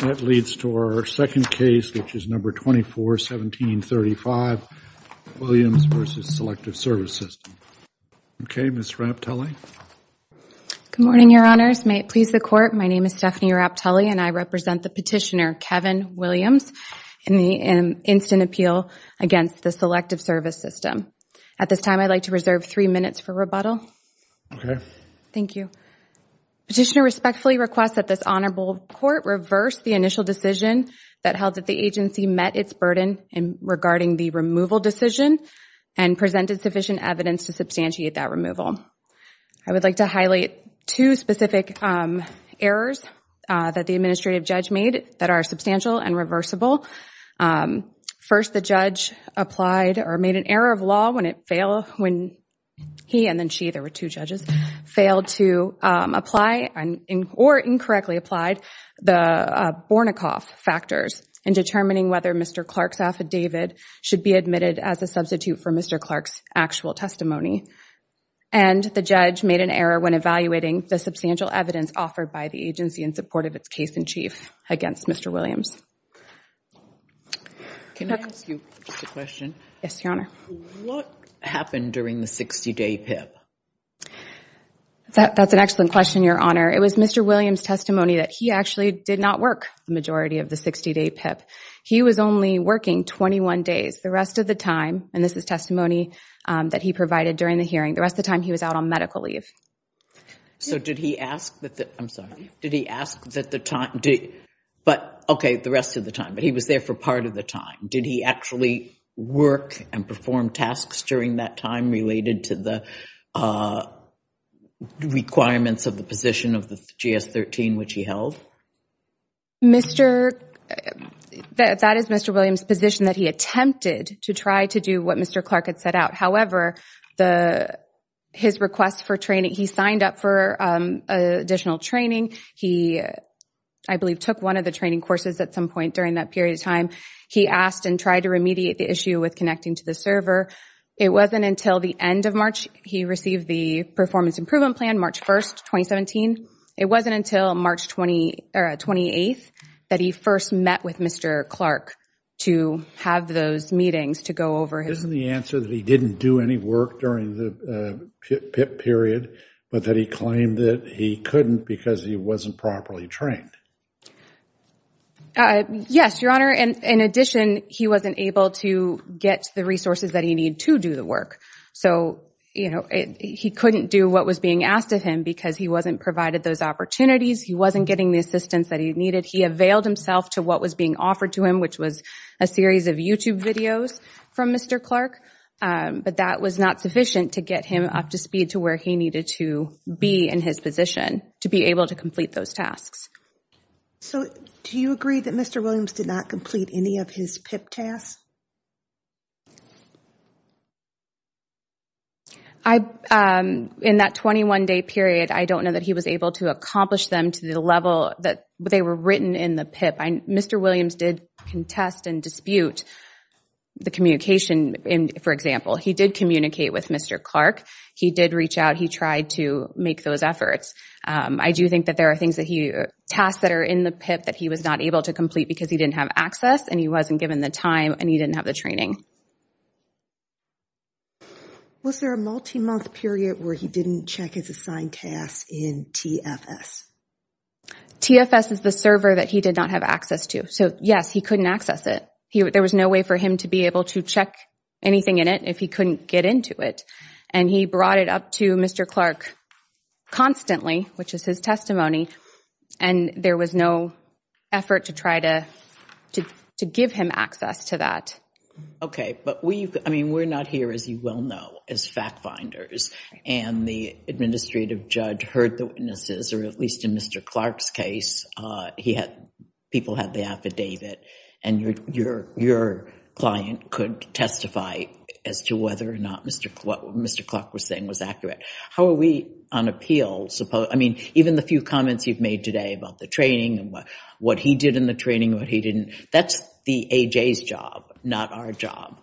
That leads to our second case, which is number 241735, Williams v. Selective Service System. Okay, Ms. Raptele. Good morning, Your Honors. May it please the Court, my name is Stephanie Raptele and I represent the petitioner, Kevin Williams, in the instant appeal against the Selective Service System. At this time, I'd like to reserve three minutes for rebuttal. Okay. Thank you. Petitioner respectfully requests that this Honorable Court reverse the initial decision that held that the agency met its burden regarding the removal decision and presented sufficient evidence to substantiate that removal. I would like to highlight two specific errors that the administrative judge made that are substantial and reversible. First, the judge applied or made an error of law when he and then she, there were two judges, failed to apply or incorrectly applied the Bornicoff factors in determining whether Mr. Clark's affidavit should be admitted as a substitute for Mr. Clark's actual testimony. And the judge made an error when evaluating the substantial evidence offered by the agency in support of its case-in-chief against Mr. Williams. Can I ask you just a question? Yes, Your Honor. What happened during the 60-day PIP? That's an excellent question, Your Honor. It was Mr. Williams' testimony that he actually did not work the majority of the 60-day PIP. He was only working 21 days. The rest of the time, and this is testimony that he provided during the hearing, the rest of the time he was out on medical leave. So did he ask that the, I'm sorry, did he ask that the time, did, but, okay, the rest of the time, but he was there for part of the time. Did he actually work and perform tasks during that time related to the requirements of the position of the GS-13, which he held? Mr., that is Mr. Williams' position that he attempted to try to do what Mr. Clark had set out. However, the, his request for training, he signed up for additional training. He, I believe, took one of the training courses at some point during that period of time. He asked and tried to remediate the issue with connecting to the server. It wasn't until the end of March, he received the performance improvement plan, March 1st, 2017. It wasn't until March 28th that he first met with Mr. Clark to have those meetings to go over. Isn't the answer that he didn't do any work during the PIP period, but that he claimed that he couldn't because he wasn't properly trained? Yes, Your Honor. And in addition, he wasn't able to get the resources that he needed to do the work. So, you know, he couldn't do what was being asked of him because he wasn't provided those opportunities. He wasn't getting the assistance that he needed. He availed himself to what was being offered to him, which was a series of YouTube videos from Mr. Clark. But that was not sufficient to get him up to speed to where he to be in his position to be able to complete those tasks. So do you agree that Mr. Williams did not complete any of his PIP tasks? In that 21-day period, I don't know that he was able to accomplish them to the level that they were written in the PIP. Mr. Williams did contest and dispute the communication. For example, he did communicate with Mr. Clark. He did reach out. He tried to make those efforts. I do think that there are tasks that are in the PIP that he was not able to complete because he didn't have access and he wasn't given the time and he didn't have the training. Was there a multi-month period where he didn't check his assigned tasks in TFS? TFS is the server that he did not have access to. So, yes, he couldn't access it. There was no way for him to be able to check anything in it if he couldn't get into it. And he brought it up to Mr. Clark constantly, which is his testimony, and there was no effort to try to give him access to that. Okay. But we're not here, as you well know, as fact-finders. And the administrative judge heard the witnesses, or at least in Mr. Clark's case, people had the affidavit. And your client could testify as to whether or not what Mr. Clark was saying was accurate. How are we on appeals? I mean, even the few comments you've made today about the training and what he did in the training and what he didn't, that's the A.J.'s job, not our job.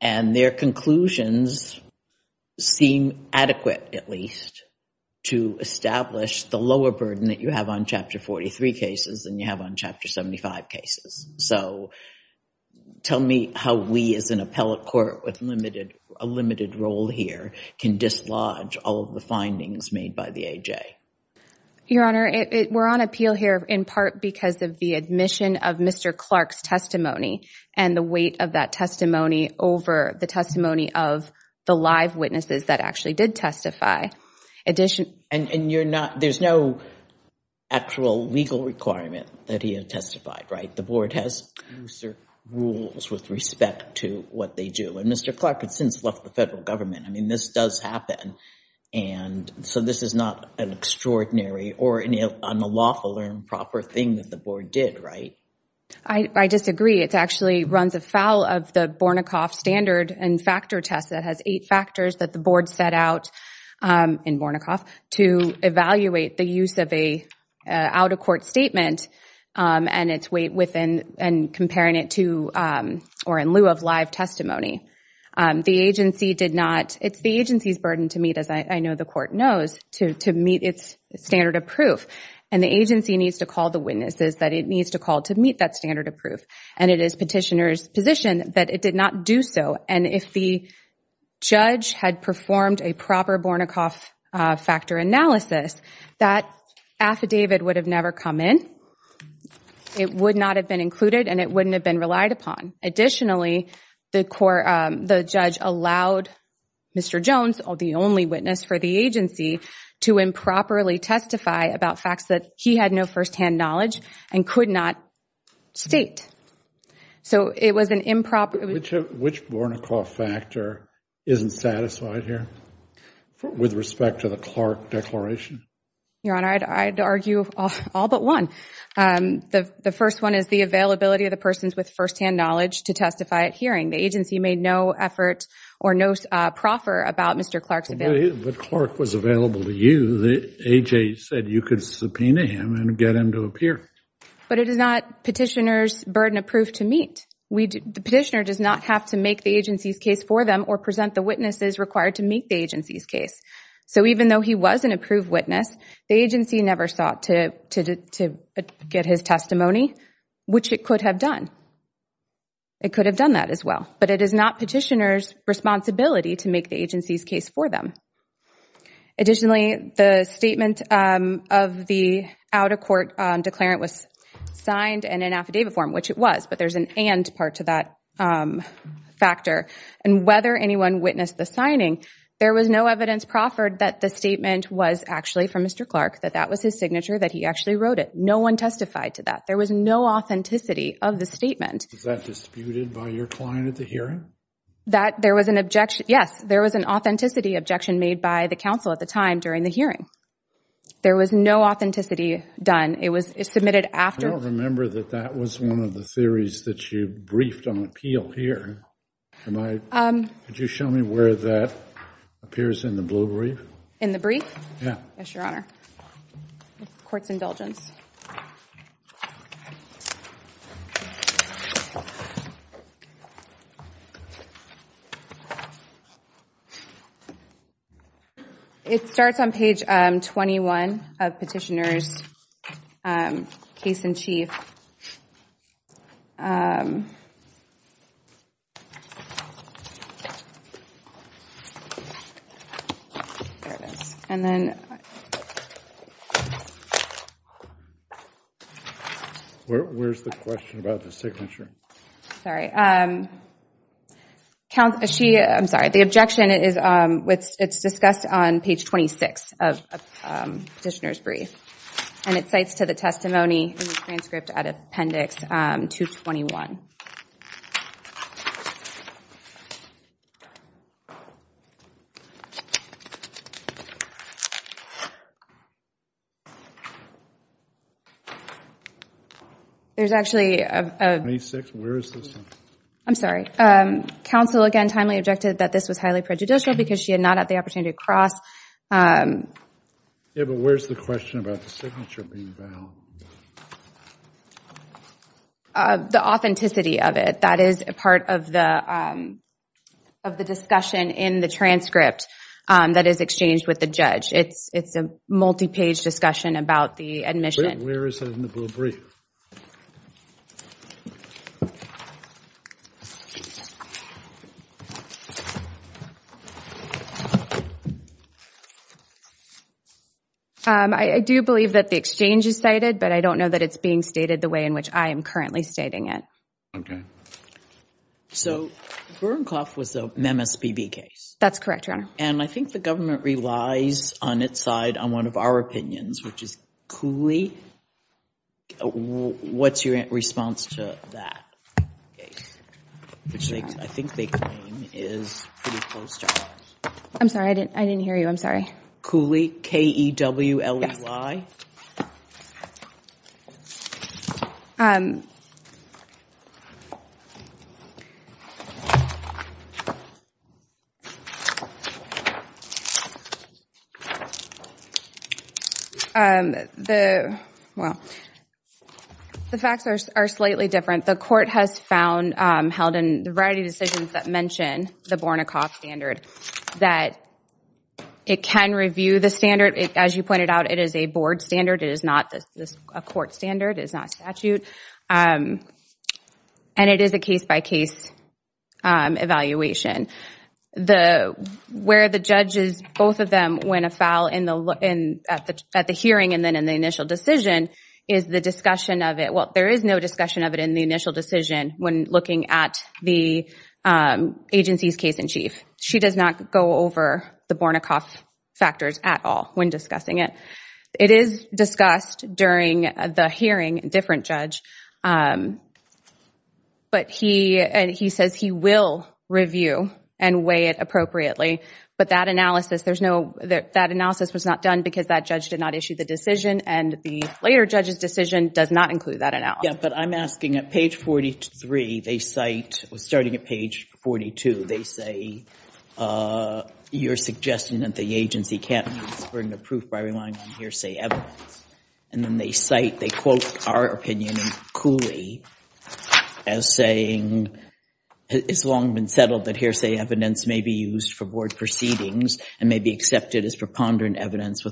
And their conclusions seem adequate, at least, to establish the lower burden that you have on Chapter 43 cases than you have on Chapter 75 cases. So, tell me how we, as an appellate court with a limited role here, can dislodge all of the findings made by the A.J.? Your Honor, we're on appeal here in part because of the admission of Mr. Clark's testimony and the weight of that testimony over the testimony of the live witnesses that actually did testify. And you're not, there's no actual legal requirement that he had testified, right? The Board has rules with respect to what they do. And Mr. Clark had since left the federal government. I mean, this does happen. And so, this is not an extraordinary or unlawful or improper thing that the Board did, right? I disagree. It actually runs afoul of the standard and factor test that has eight factors that the Board set out in Bornicoff to evaluate the use of an out-of-court statement and its weight within and comparing it to or in lieu of live testimony. The agency did not, it's the agency's burden to meet, as I know the court knows, to meet its standard of proof. And the agency needs to call the witnesses that it needs to call to meet that standard of proof. And it is petitioner's position that it did not do so. And if the judge had performed a proper Bornicoff factor analysis, that affidavit would have never come in. It would not have been included and it wouldn't have been relied upon. Additionally, the judge allowed Mr. Jones, the only witness for the agency, to improperly testify about facts that he had no first-hand knowledge and could not state. So, it was an improper... Which Bornicoff factor isn't satisfied here with respect to the Clark declaration? Your Honor, I'd argue all but one. The first one is the availability of the persons with first-hand knowledge to testify at hearing. The agency made no effort or no proffer about Mr. Clark's availability. But Clark was available to you. AJ said you could subpoena him and get him to appear. But it is not petitioner's burden of proof to meet. The petitioner does not have to make the agency's case for them or present the witnesses required to make the agency's case. So, even though he was an approved witness, the agency never sought to get his testimony, which it could have done. It could have done that as well. But it is not petitioner's responsibility to make the agency's case for them. Additionally, the statement of the out-of-court declarant was signed in an affidavit form, which it was. But there's an and part to that factor. And whether anyone witnessed the signing, there was no evidence proffered that the statement was actually from Mr. Clark, that that was his signature, that he actually wrote it. No one testified to that. There was no authenticity of the statement. Was that disputed by your client at the hearing? That there was an objection. Yes, there was an authenticity objection made by the counsel at the time during the hearing. There was no authenticity done. It was submitted after. I don't remember that that was one of the theories that you briefed on appeal here. Could you show me where that appears in the blue brief? In the brief? Yeah. Yes, Your Honor. The court's indulgence. It starts on page 21 of petitioner's case in chief. There it is. And then. Where's the question about the signature? Sorry. The objection, it's discussed on page 26 of petitioner's brief. And it cites to the 221. There's actually. I'm sorry. Counsel, again, timely objected that this was highly prejudicial because she had not had the opportunity to cross. Yeah, but where's the question about the signature being found? The authenticity of it. That is a part of the discussion in the transcript that is exchanged with the judge. It's a multi-page discussion about the admission. Where is it in the blue brief? I do believe that the exchange is cited, but I don't know that it's being stated the way in Okay. So, Burnkoff was the MSPB case. That's correct, Your Honor. And I think the government relies on its side on one of our opinions, which is Cooley. What's your response to that case? Which I think they claim is pretty close to ours. I'm sorry. I didn't hear you. I'm sorry. Cooley, K-E-W-L-E-Y. The facts are slightly different. The court has found, held in the variety of decisions that mention the Burnkoff standard, that it can review the standard. As you pointed out, it is a board standard. It is not a court standard. It is not a statute. And it is a case-by-case evaluation. Where the judge is, both of them, when a foul at the hearing and then in the initial decision, is the discussion of it. Well, there is no discussion of it in the initial decision when looking at the agency's case-in-chief. She does not go over the Burnkoff factors at all when discussing it. It is discussed during the hearing, a different judge. But he says he will review and weigh it appropriately. But that analysis was not done because that judge did not issue the decision. And the later judge's decision does not include that analysis. Yeah, but I'm asking, at page 43, they cite, starting at page 42, they say, you're suggesting that the agency can't use burden of proof by relying on hearsay evidence. And then they cite, they quote our opinion in Cooley as saying, it's long been settled that hearsay evidence may be used for board proceedings and may be accepted as preponderant evidence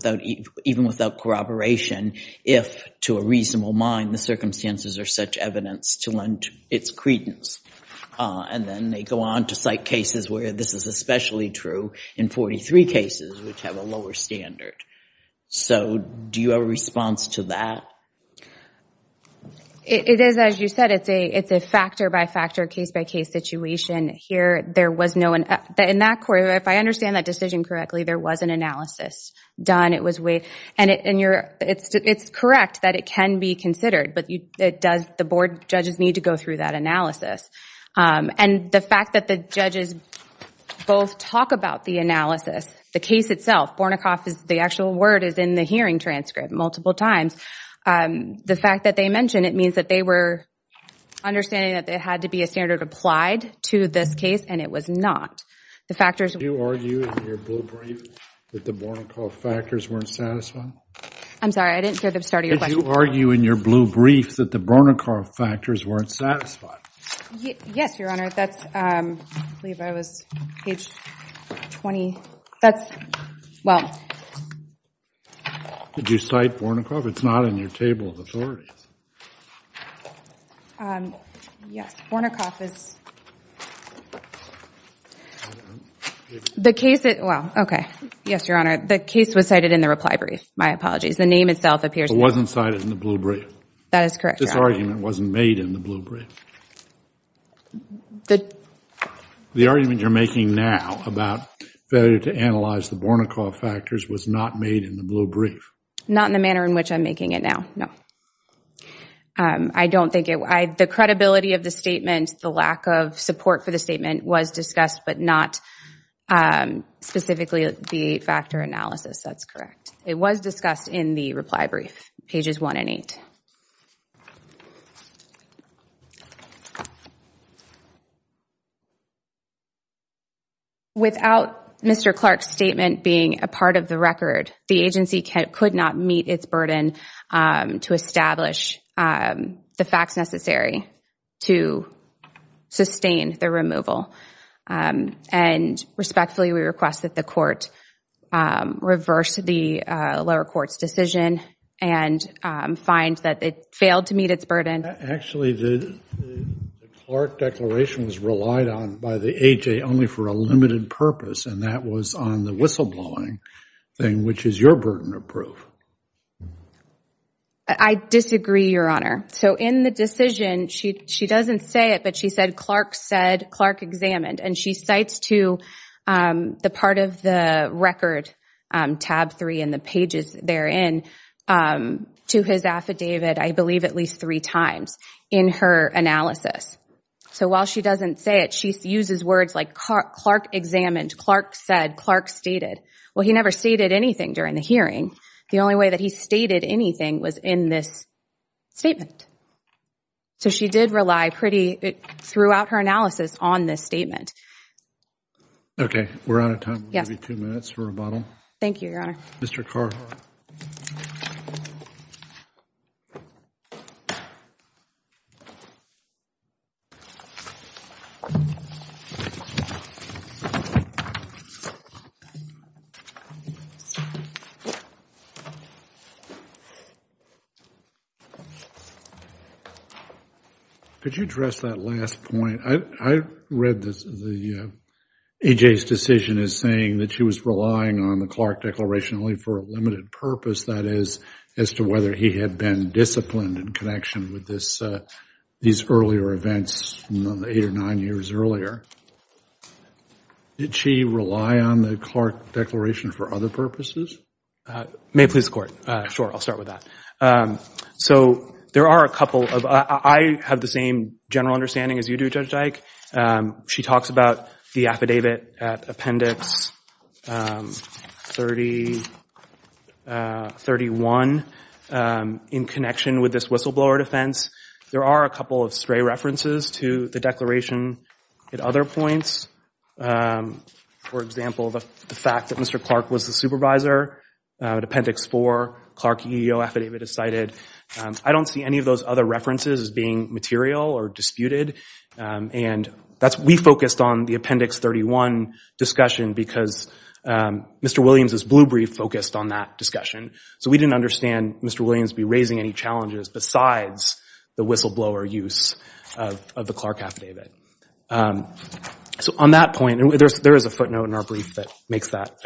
even without corroboration if, to a reasonable mind, the circumstances are such evidence to lend its credence. And then they go on to cite cases where this is especially true in 43 cases which have a lower standard. So do you have a response to that? It is, as you said, it's a factor-by-factor, case-by-case situation. Here, there was no, in that, if I understand that decision correctly, there was an analysis done. And it's correct that it can be considered, but the board judges need to go through that analysis. And the fact that the judges both talk about the analysis, the case itself, Bornakoff, the actual word is in the hearing transcript multiple times, the fact that they mention it means that they were understanding that there had to be a standard applied to this case, and it was not. The factors... Did you argue in your blue brief that the Bornakoff factors weren't satisfied? I'm sorry, I didn't hear the start of your question. Did you argue in your blue brief that the Bornakoff factors weren't satisfied? Yes, Your Honor. That's, I believe I was page 20. That's, well... Did you cite Bornakoff? It's not in your table of authorities. Um, yes, Bornakoff is... The case, well, okay. Yes, Your Honor, the case was cited in the reply brief. My apologies, the name itself appears... It wasn't cited in the blue brief. That is correct, Your Honor. This argument wasn't made in the blue brief. The argument you're making now about failure to analyze the Bornakoff factors was not made in the blue brief. Not in the manner in which I'm it now. No. I don't think it... The credibility of the statement, the lack of support for the statement was discussed, but not specifically the factor analysis. That's correct. It was discussed in the reply brief, pages 1 and 8. Without Mr. Clark's statement being a part of the record, the agency could not meet its burden to establish the facts necessary to sustain the removal. And respectfully, we request that the court reverse the lower court's decision and find that it failed to meet its burden. Actually, the Clark declaration was relied on by the A.J. only for a limited purpose, and that was on the whistleblowing thing, which is your burden of proof. I disagree, Your Honor. So in the decision, she doesn't say it, but she said Clark said, Clark examined. And she cites to the part of the record, tab 3 in the pages therein, to his affidavit, I believe at least three times in her analysis. So while she doesn't say it, she uses words like Clark examined, Clark said, Clark stated. Well, he never stated anything during the hearing. The only way that he stated anything was in this statement. So she did rely pretty... Threw out her analysis on this statement. Okay. We're out of time. We'll give you two minutes for rebuttal. Thank you, Your Honor. Mr. Carver. Could you address that last point? I read the A.J.'s decision as saying that she was relying on the Clark declaration only for a limited purpose, that is, as to whether he had been disciplined in connection with these earlier events, eight or nine years earlier. Did she rely on the Clark declaration for other purposes? May it please the Court. Sure. I'll start with that. So there are a couple of... I have the same general understanding as you do, Judge Dyke. She talks about the affidavit appendix. 3031 in connection with this whistleblower defense. There are a couple of stray references to the declaration at other points. For example, the fact that Mr. Clark was the supervisor at appendix four, Clark EEO affidavit is cited. I don't see any of those other references as being disputed. We focused on the appendix 31 discussion because Mr. Williams' blue brief focused on that discussion. So we didn't understand Mr. Williams be raising any challenges besides the whistleblower use of the Clark affidavit. So on that point, there is a footnote in our brief that makes that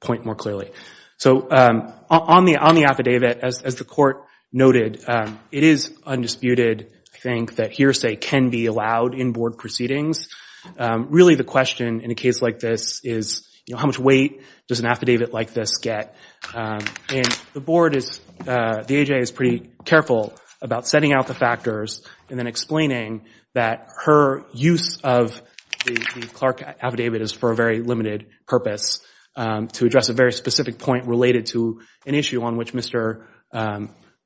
point more clearly. So on the affidavit, as the Court noted, it is undisputed, I think, that hearsay can be allowed in board proceedings. Really the question in a case like this is how much weight does an affidavit like this get? And the board is, the AJA is pretty careful about setting out the factors and then explaining that her use of the Clark affidavit is for a very limited purpose to address a very specific point related to an issue on which Mr.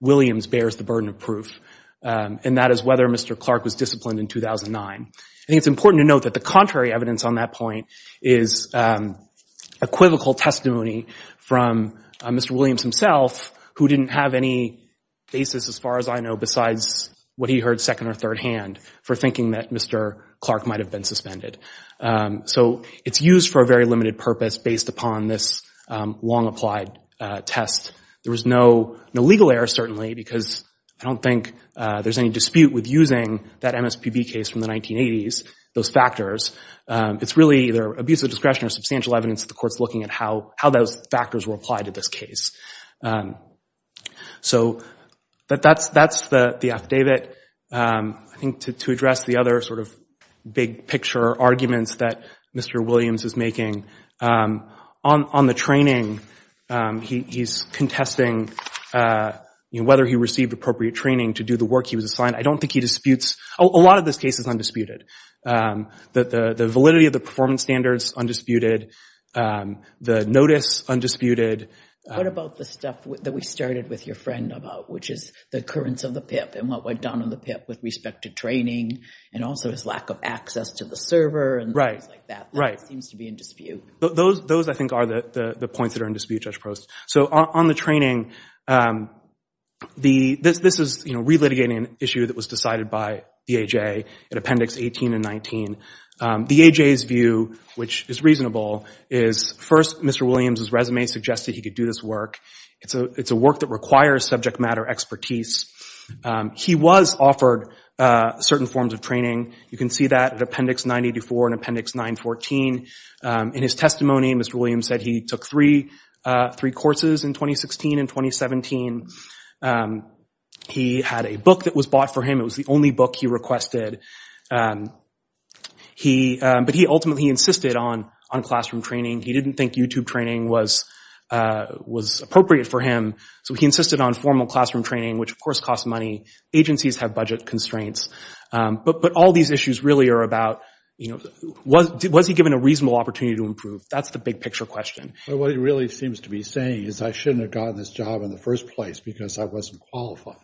Williams bears the burden of proof, and that is whether Mr. Clark was disciplined in 2009. I think it's important to note that the contrary evidence on that point is equivocal testimony from Mr. Williams himself, who didn't have any basis, as far as I know, besides what he heard second or third hand for thinking that Mr. Clark might have been suspended. So it's used for a very limited purpose based upon this long-applied test. There was no legal error, certainly, because I don't think there's any dispute with using that MSPB case from the 1980s, those factors. It's really either abusive discretion or substantial evidence that the Court's looking at how those factors were applied to this case. So that's the affidavit. I think to address the other sort of big picture arguments that Mr. Williams is making, on the training, he's contesting whether he received appropriate training to do the work he was assigned. I don't think he disputes, a lot of this case is undisputed. The validity of the performance standards, undisputed. The notice, undisputed. What about the stuff that we started with your friend about, which is the occurrence of the PIP and what went down on the PIP with respect to training, and also his lack of access to the server and things like that? That seems to be in dispute. Those, I think, are the points that are in dispute, Judge Prost. So on the training, this is relitigating an issue that was decided by the AJA in Appendix 18 and 19. The AJA's view, which is reasonable, is first, Mr. Williams' resume suggested he could do this work. It's a work that requires subject matter expertise. He was offered certain forms of training. You can see that in Appendix 984 and Appendix 914. In his testimony, Mr. Williams said he took three courses in 2016 and 2017. He had a book that was bought for him. It was the only book he requested. But ultimately, he insisted on classroom training. He didn't think YouTube training was appropriate for him. So he insisted on formal classroom training, which, of course, costs money. Agencies have budget constraints. But all these issues really are about, you know, was he given a reasonable opportunity to improve? That's the big-picture question. But what he really seems to be saying is, I shouldn't have gotten this job in the first place because I wasn't qualified.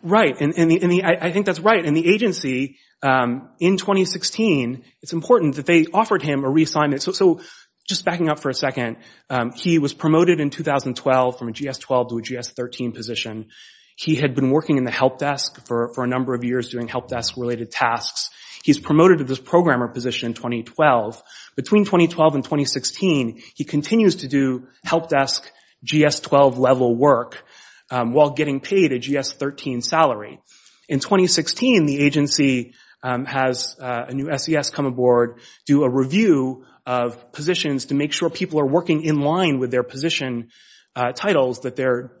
Right. I think that's right. In the agency, in 2016, it's important that they offered him a reassignment. So just backing up for a second, he was promoted in 2012 from a GS-12 to a GS-13 position. He had been working in the help desk for a number of years doing help desk-related tasks. He's promoted to this programmer position in 2012. Between 2012 and 2016, he continues to do GS-12 level work while getting paid a GS-13 salary. In 2016, the agency has a new SES come aboard, do a review of positions to make sure people are working in line with their position titles, that their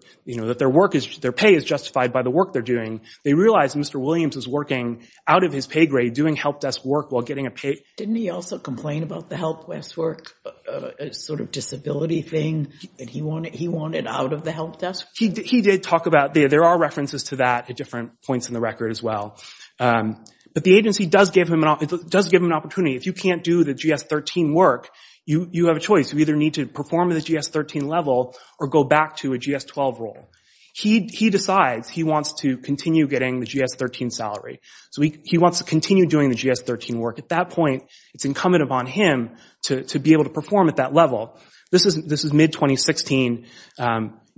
pay is justified by the work they're doing. They realize Mr. Williams is working out of his pay grade doing help desk work while getting a pay grade. Didn't he also complain about the help desk work sort of disability thing that he wanted out of the help desk? He did talk about that. There are references to that at different points in the record as well. But the agency does give him an opportunity. If you can't do the GS-13 work, you have a choice. You either need to perform at the GS-13 level or go back to a GS-12 role. He decides he wants to continue getting the GS-13 salary. So he wants to continue doing the GS-13 work. At that point, it's incumbent upon him to be able to perform at that level. This is mid-2016.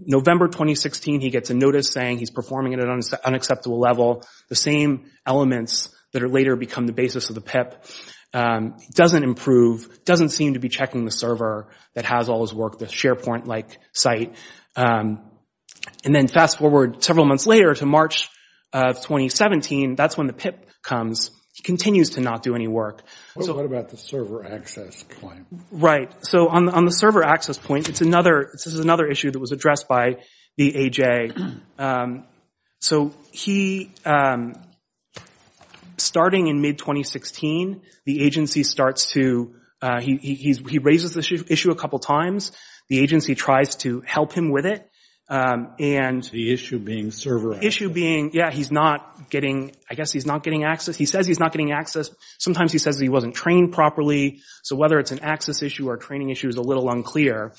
November 2016, he gets a notice saying he's performing at an unacceptable level. The same elements that later become the basis of the PIP doesn't improve, doesn't seem to be checking the server that has all his work, the SharePoint-like site. And then fast forward several months later to March of 2017, that's when the PIP comes. He continues to not do any work. What about the server access claim? Right. So on the server access point, this is another issue that was addressed by the AJ. So starting in mid-2016, he raises the issue a couple of times. The agency tries to help him with it. The issue being server access. He's not getting access. He says he's not getting access. Sometimes he says he wasn't trained properly. So whether it's an access issue or a training issue is a little unclear.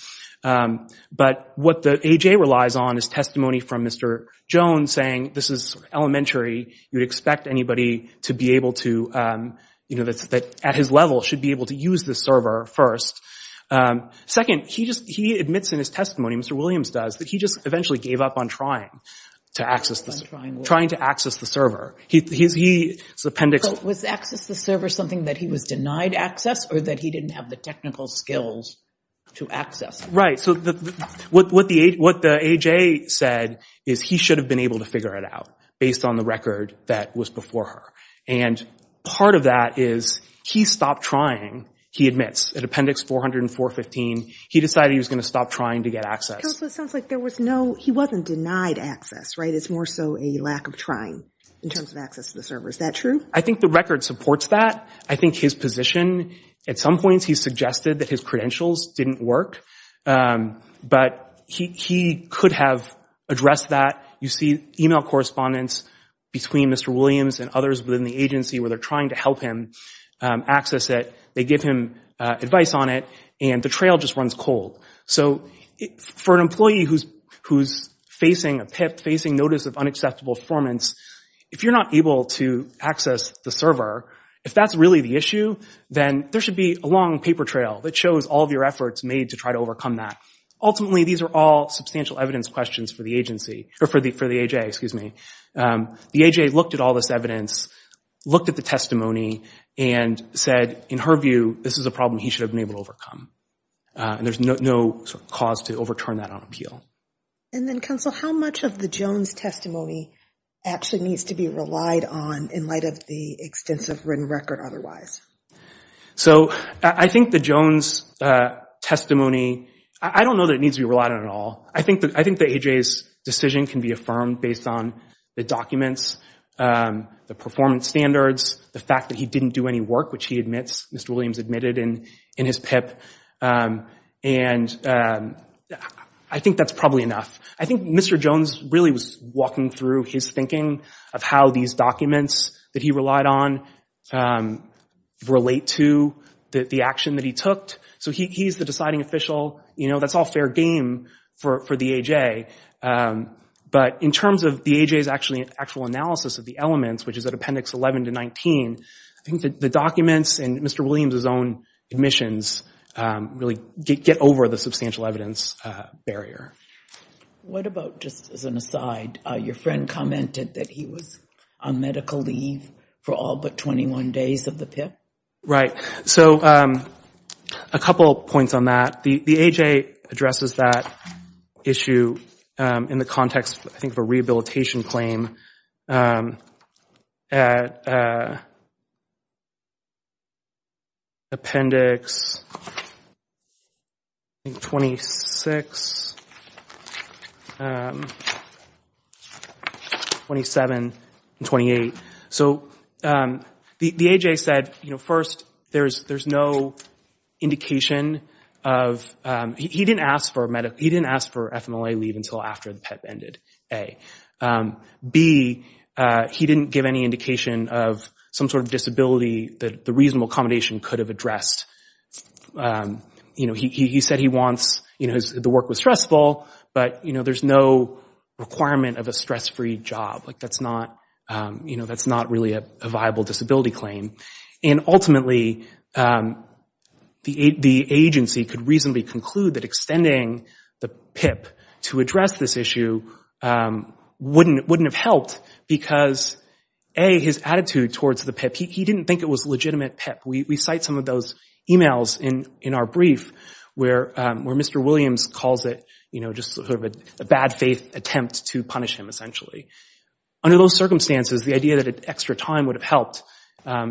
But what the AJ relies on is testimony from Mr. Jones saying this is elementary. You'd expect anybody at his level should be able to use the server first. Second, he admits in his testimony, Mr. Williams does, that he just eventually gave up on trying to access the server. Was access the server something that he was denied access or that he didn't have the technical skills to access? Right. So what the AJ said is he should have been able to figure it out based on the record that was before her. And part of that is he stopped trying, he admits, at Appendix 40415, he decided he was going to stop trying to get access. So it sounds like there was no, he wasn't denied access, right? It's more so a lack of trying in terms of access to the server. Is that true? I think the record supports that. I think his position, at some points he suggested that his credentials didn't work. But he could have addressed that. You see email correspondence between Mr. Williams and others within the agency where they're trying to help him access it, they give him advice on it, and the trail just runs cold. So for an employee who's facing a PIP, facing notice of unacceptable performance, if you're not able to access the server, if that's really the issue, then there should be a long paper trail that shows all of your efforts made to try to overcome that. Ultimately, these are all substantial evidence questions for the agency, or for the AJ, excuse me. The AJ looked at all looked at the testimony and said, in her view, this is a problem he should have been able to overcome. And there's no cause to overturn that on appeal. And then Counsel, how much of the Jones testimony actually needs to be relied on in light of the extensive written record otherwise? So I think the Jones testimony, I don't know that it needs to be relied on at all. I think the AJ's decision can be affirmed based on the documents, the performance standards, the fact that he didn't do any work, which he admits, Mr. Williams admitted in his PIP. And I think that's probably enough. I think Mr. Jones really was walking through his thinking of how these documents that he relied on relate to the action that he took. So he's the deciding official, you know, that's all fair game for the AJ. But in terms of the AJ's actual analysis of the elements, which is at Appendix 11 to 19, I think that the documents and Mr. Williams' own admissions really get over the substantial evidence barrier. What about, just as an aside, your friend commented that he was on medical leave for all but 21 days of the PIP? Right. So a couple points on that. The AJ addresses that issue in the context, I think, of a rehabilitation claim at Appendix 26, 27, and 28. So the AJ said, first, there's no indication of—he didn't ask for FMLA leave until after the PIP ended, A. B, he didn't give any indication of some sort of disability that the reasonable accommodation could have addressed. He said he wants—the work was stressful, but there's no requirement of a PIP. And ultimately, the agency could reasonably conclude that extending the PIP to address this issue wouldn't have helped because, A, his attitude towards the PIP. He didn't think it was a legitimate PIP. We cite some of those emails in our brief where Mr. Williams calls it, you know, just sort of a bad faith attempt to punish him, essentially. Under those circumstances, the idea that extra time would have helped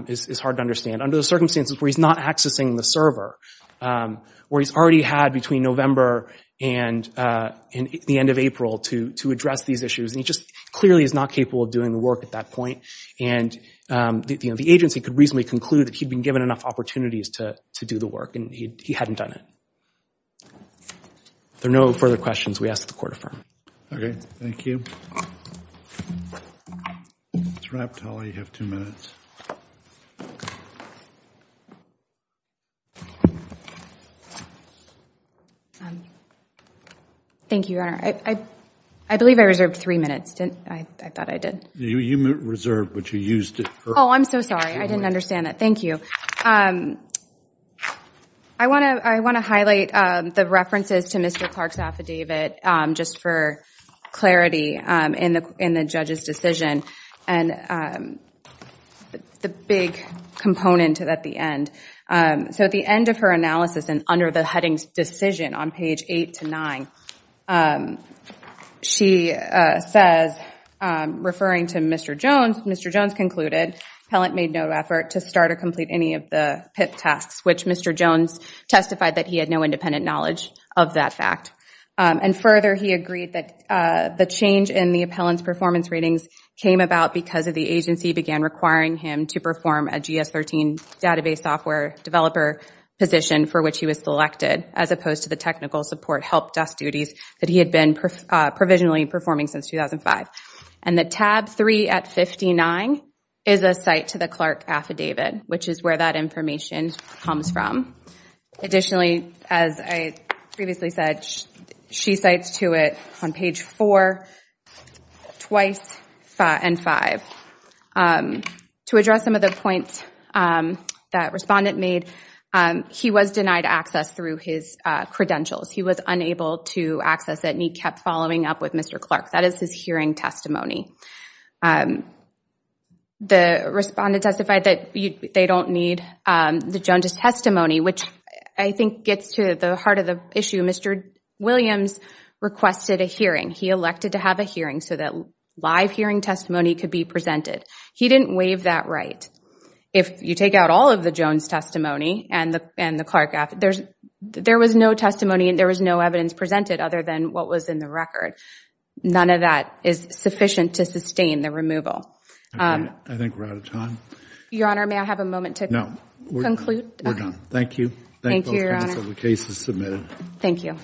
is hard to understand. Under the circumstances where he's not accessing the server, where he's already had between November and the end of April to address these issues, and he just clearly is not capable of doing the work at that point. And, you know, the agency could reasonably conclude that he'd been given enough opportunities to do the work, and he hadn't done it. If there are no further questions, we ask that the Court affirm. Okay. Thank you. It's wrapped, Holly. You have two minutes. Thank you, Your Honor. I believe I reserved three minutes, didn't I? I thought I did. You reserved, but you used it for— Oh, I'm so sorry. I didn't understand that. Thank you. I want to highlight the references to Mr. Clark's affidavit just for clarity in the judge's decision, and the big component at the end. So at the end of her analysis and under the headings decision on page eight to nine, she says, referring to Mr. Jones, Mr. Jones concluded Appellant made no effort to start or complete any of the PIP tasks, which Mr. Jones testified that he had no independent knowledge of that fact. And further, he agreed that the change in the Appellant's performance ratings came about because the agency began requiring him to perform a GS-13 database software developer position for which he was selected, as opposed to the technical support help desk duties that he had been provisionally performing since 2005. And the tab three at 59 is a cite to the Clark affidavit, which is where that information comes from. Additionally, as I previously said, she cites to it on page four, twice, and five. To address some of the points that Respondent made, he was denied access through his credentials. He was unable to access it, and he kept following up with Mr. Clark. That is his hearing testimony. The Respondent testified that they don't need the Jones's testimony, which I think gets to the heart of the issue. Mr. Williams requested a hearing. He elected to have a hearing so that live hearing testimony could be presented. He didn't waive that right. If you take out all of the Jones testimony and the Clark affidavit, there was no testimony, and there was no evidence presented other than what was in the record. None of that is sufficient to sustain the removal. I think we're out of time. Your Honor, may I have a moment to conclude? We're done. Thank you. Thank you, Your Honor. The case is submitted. Thank you.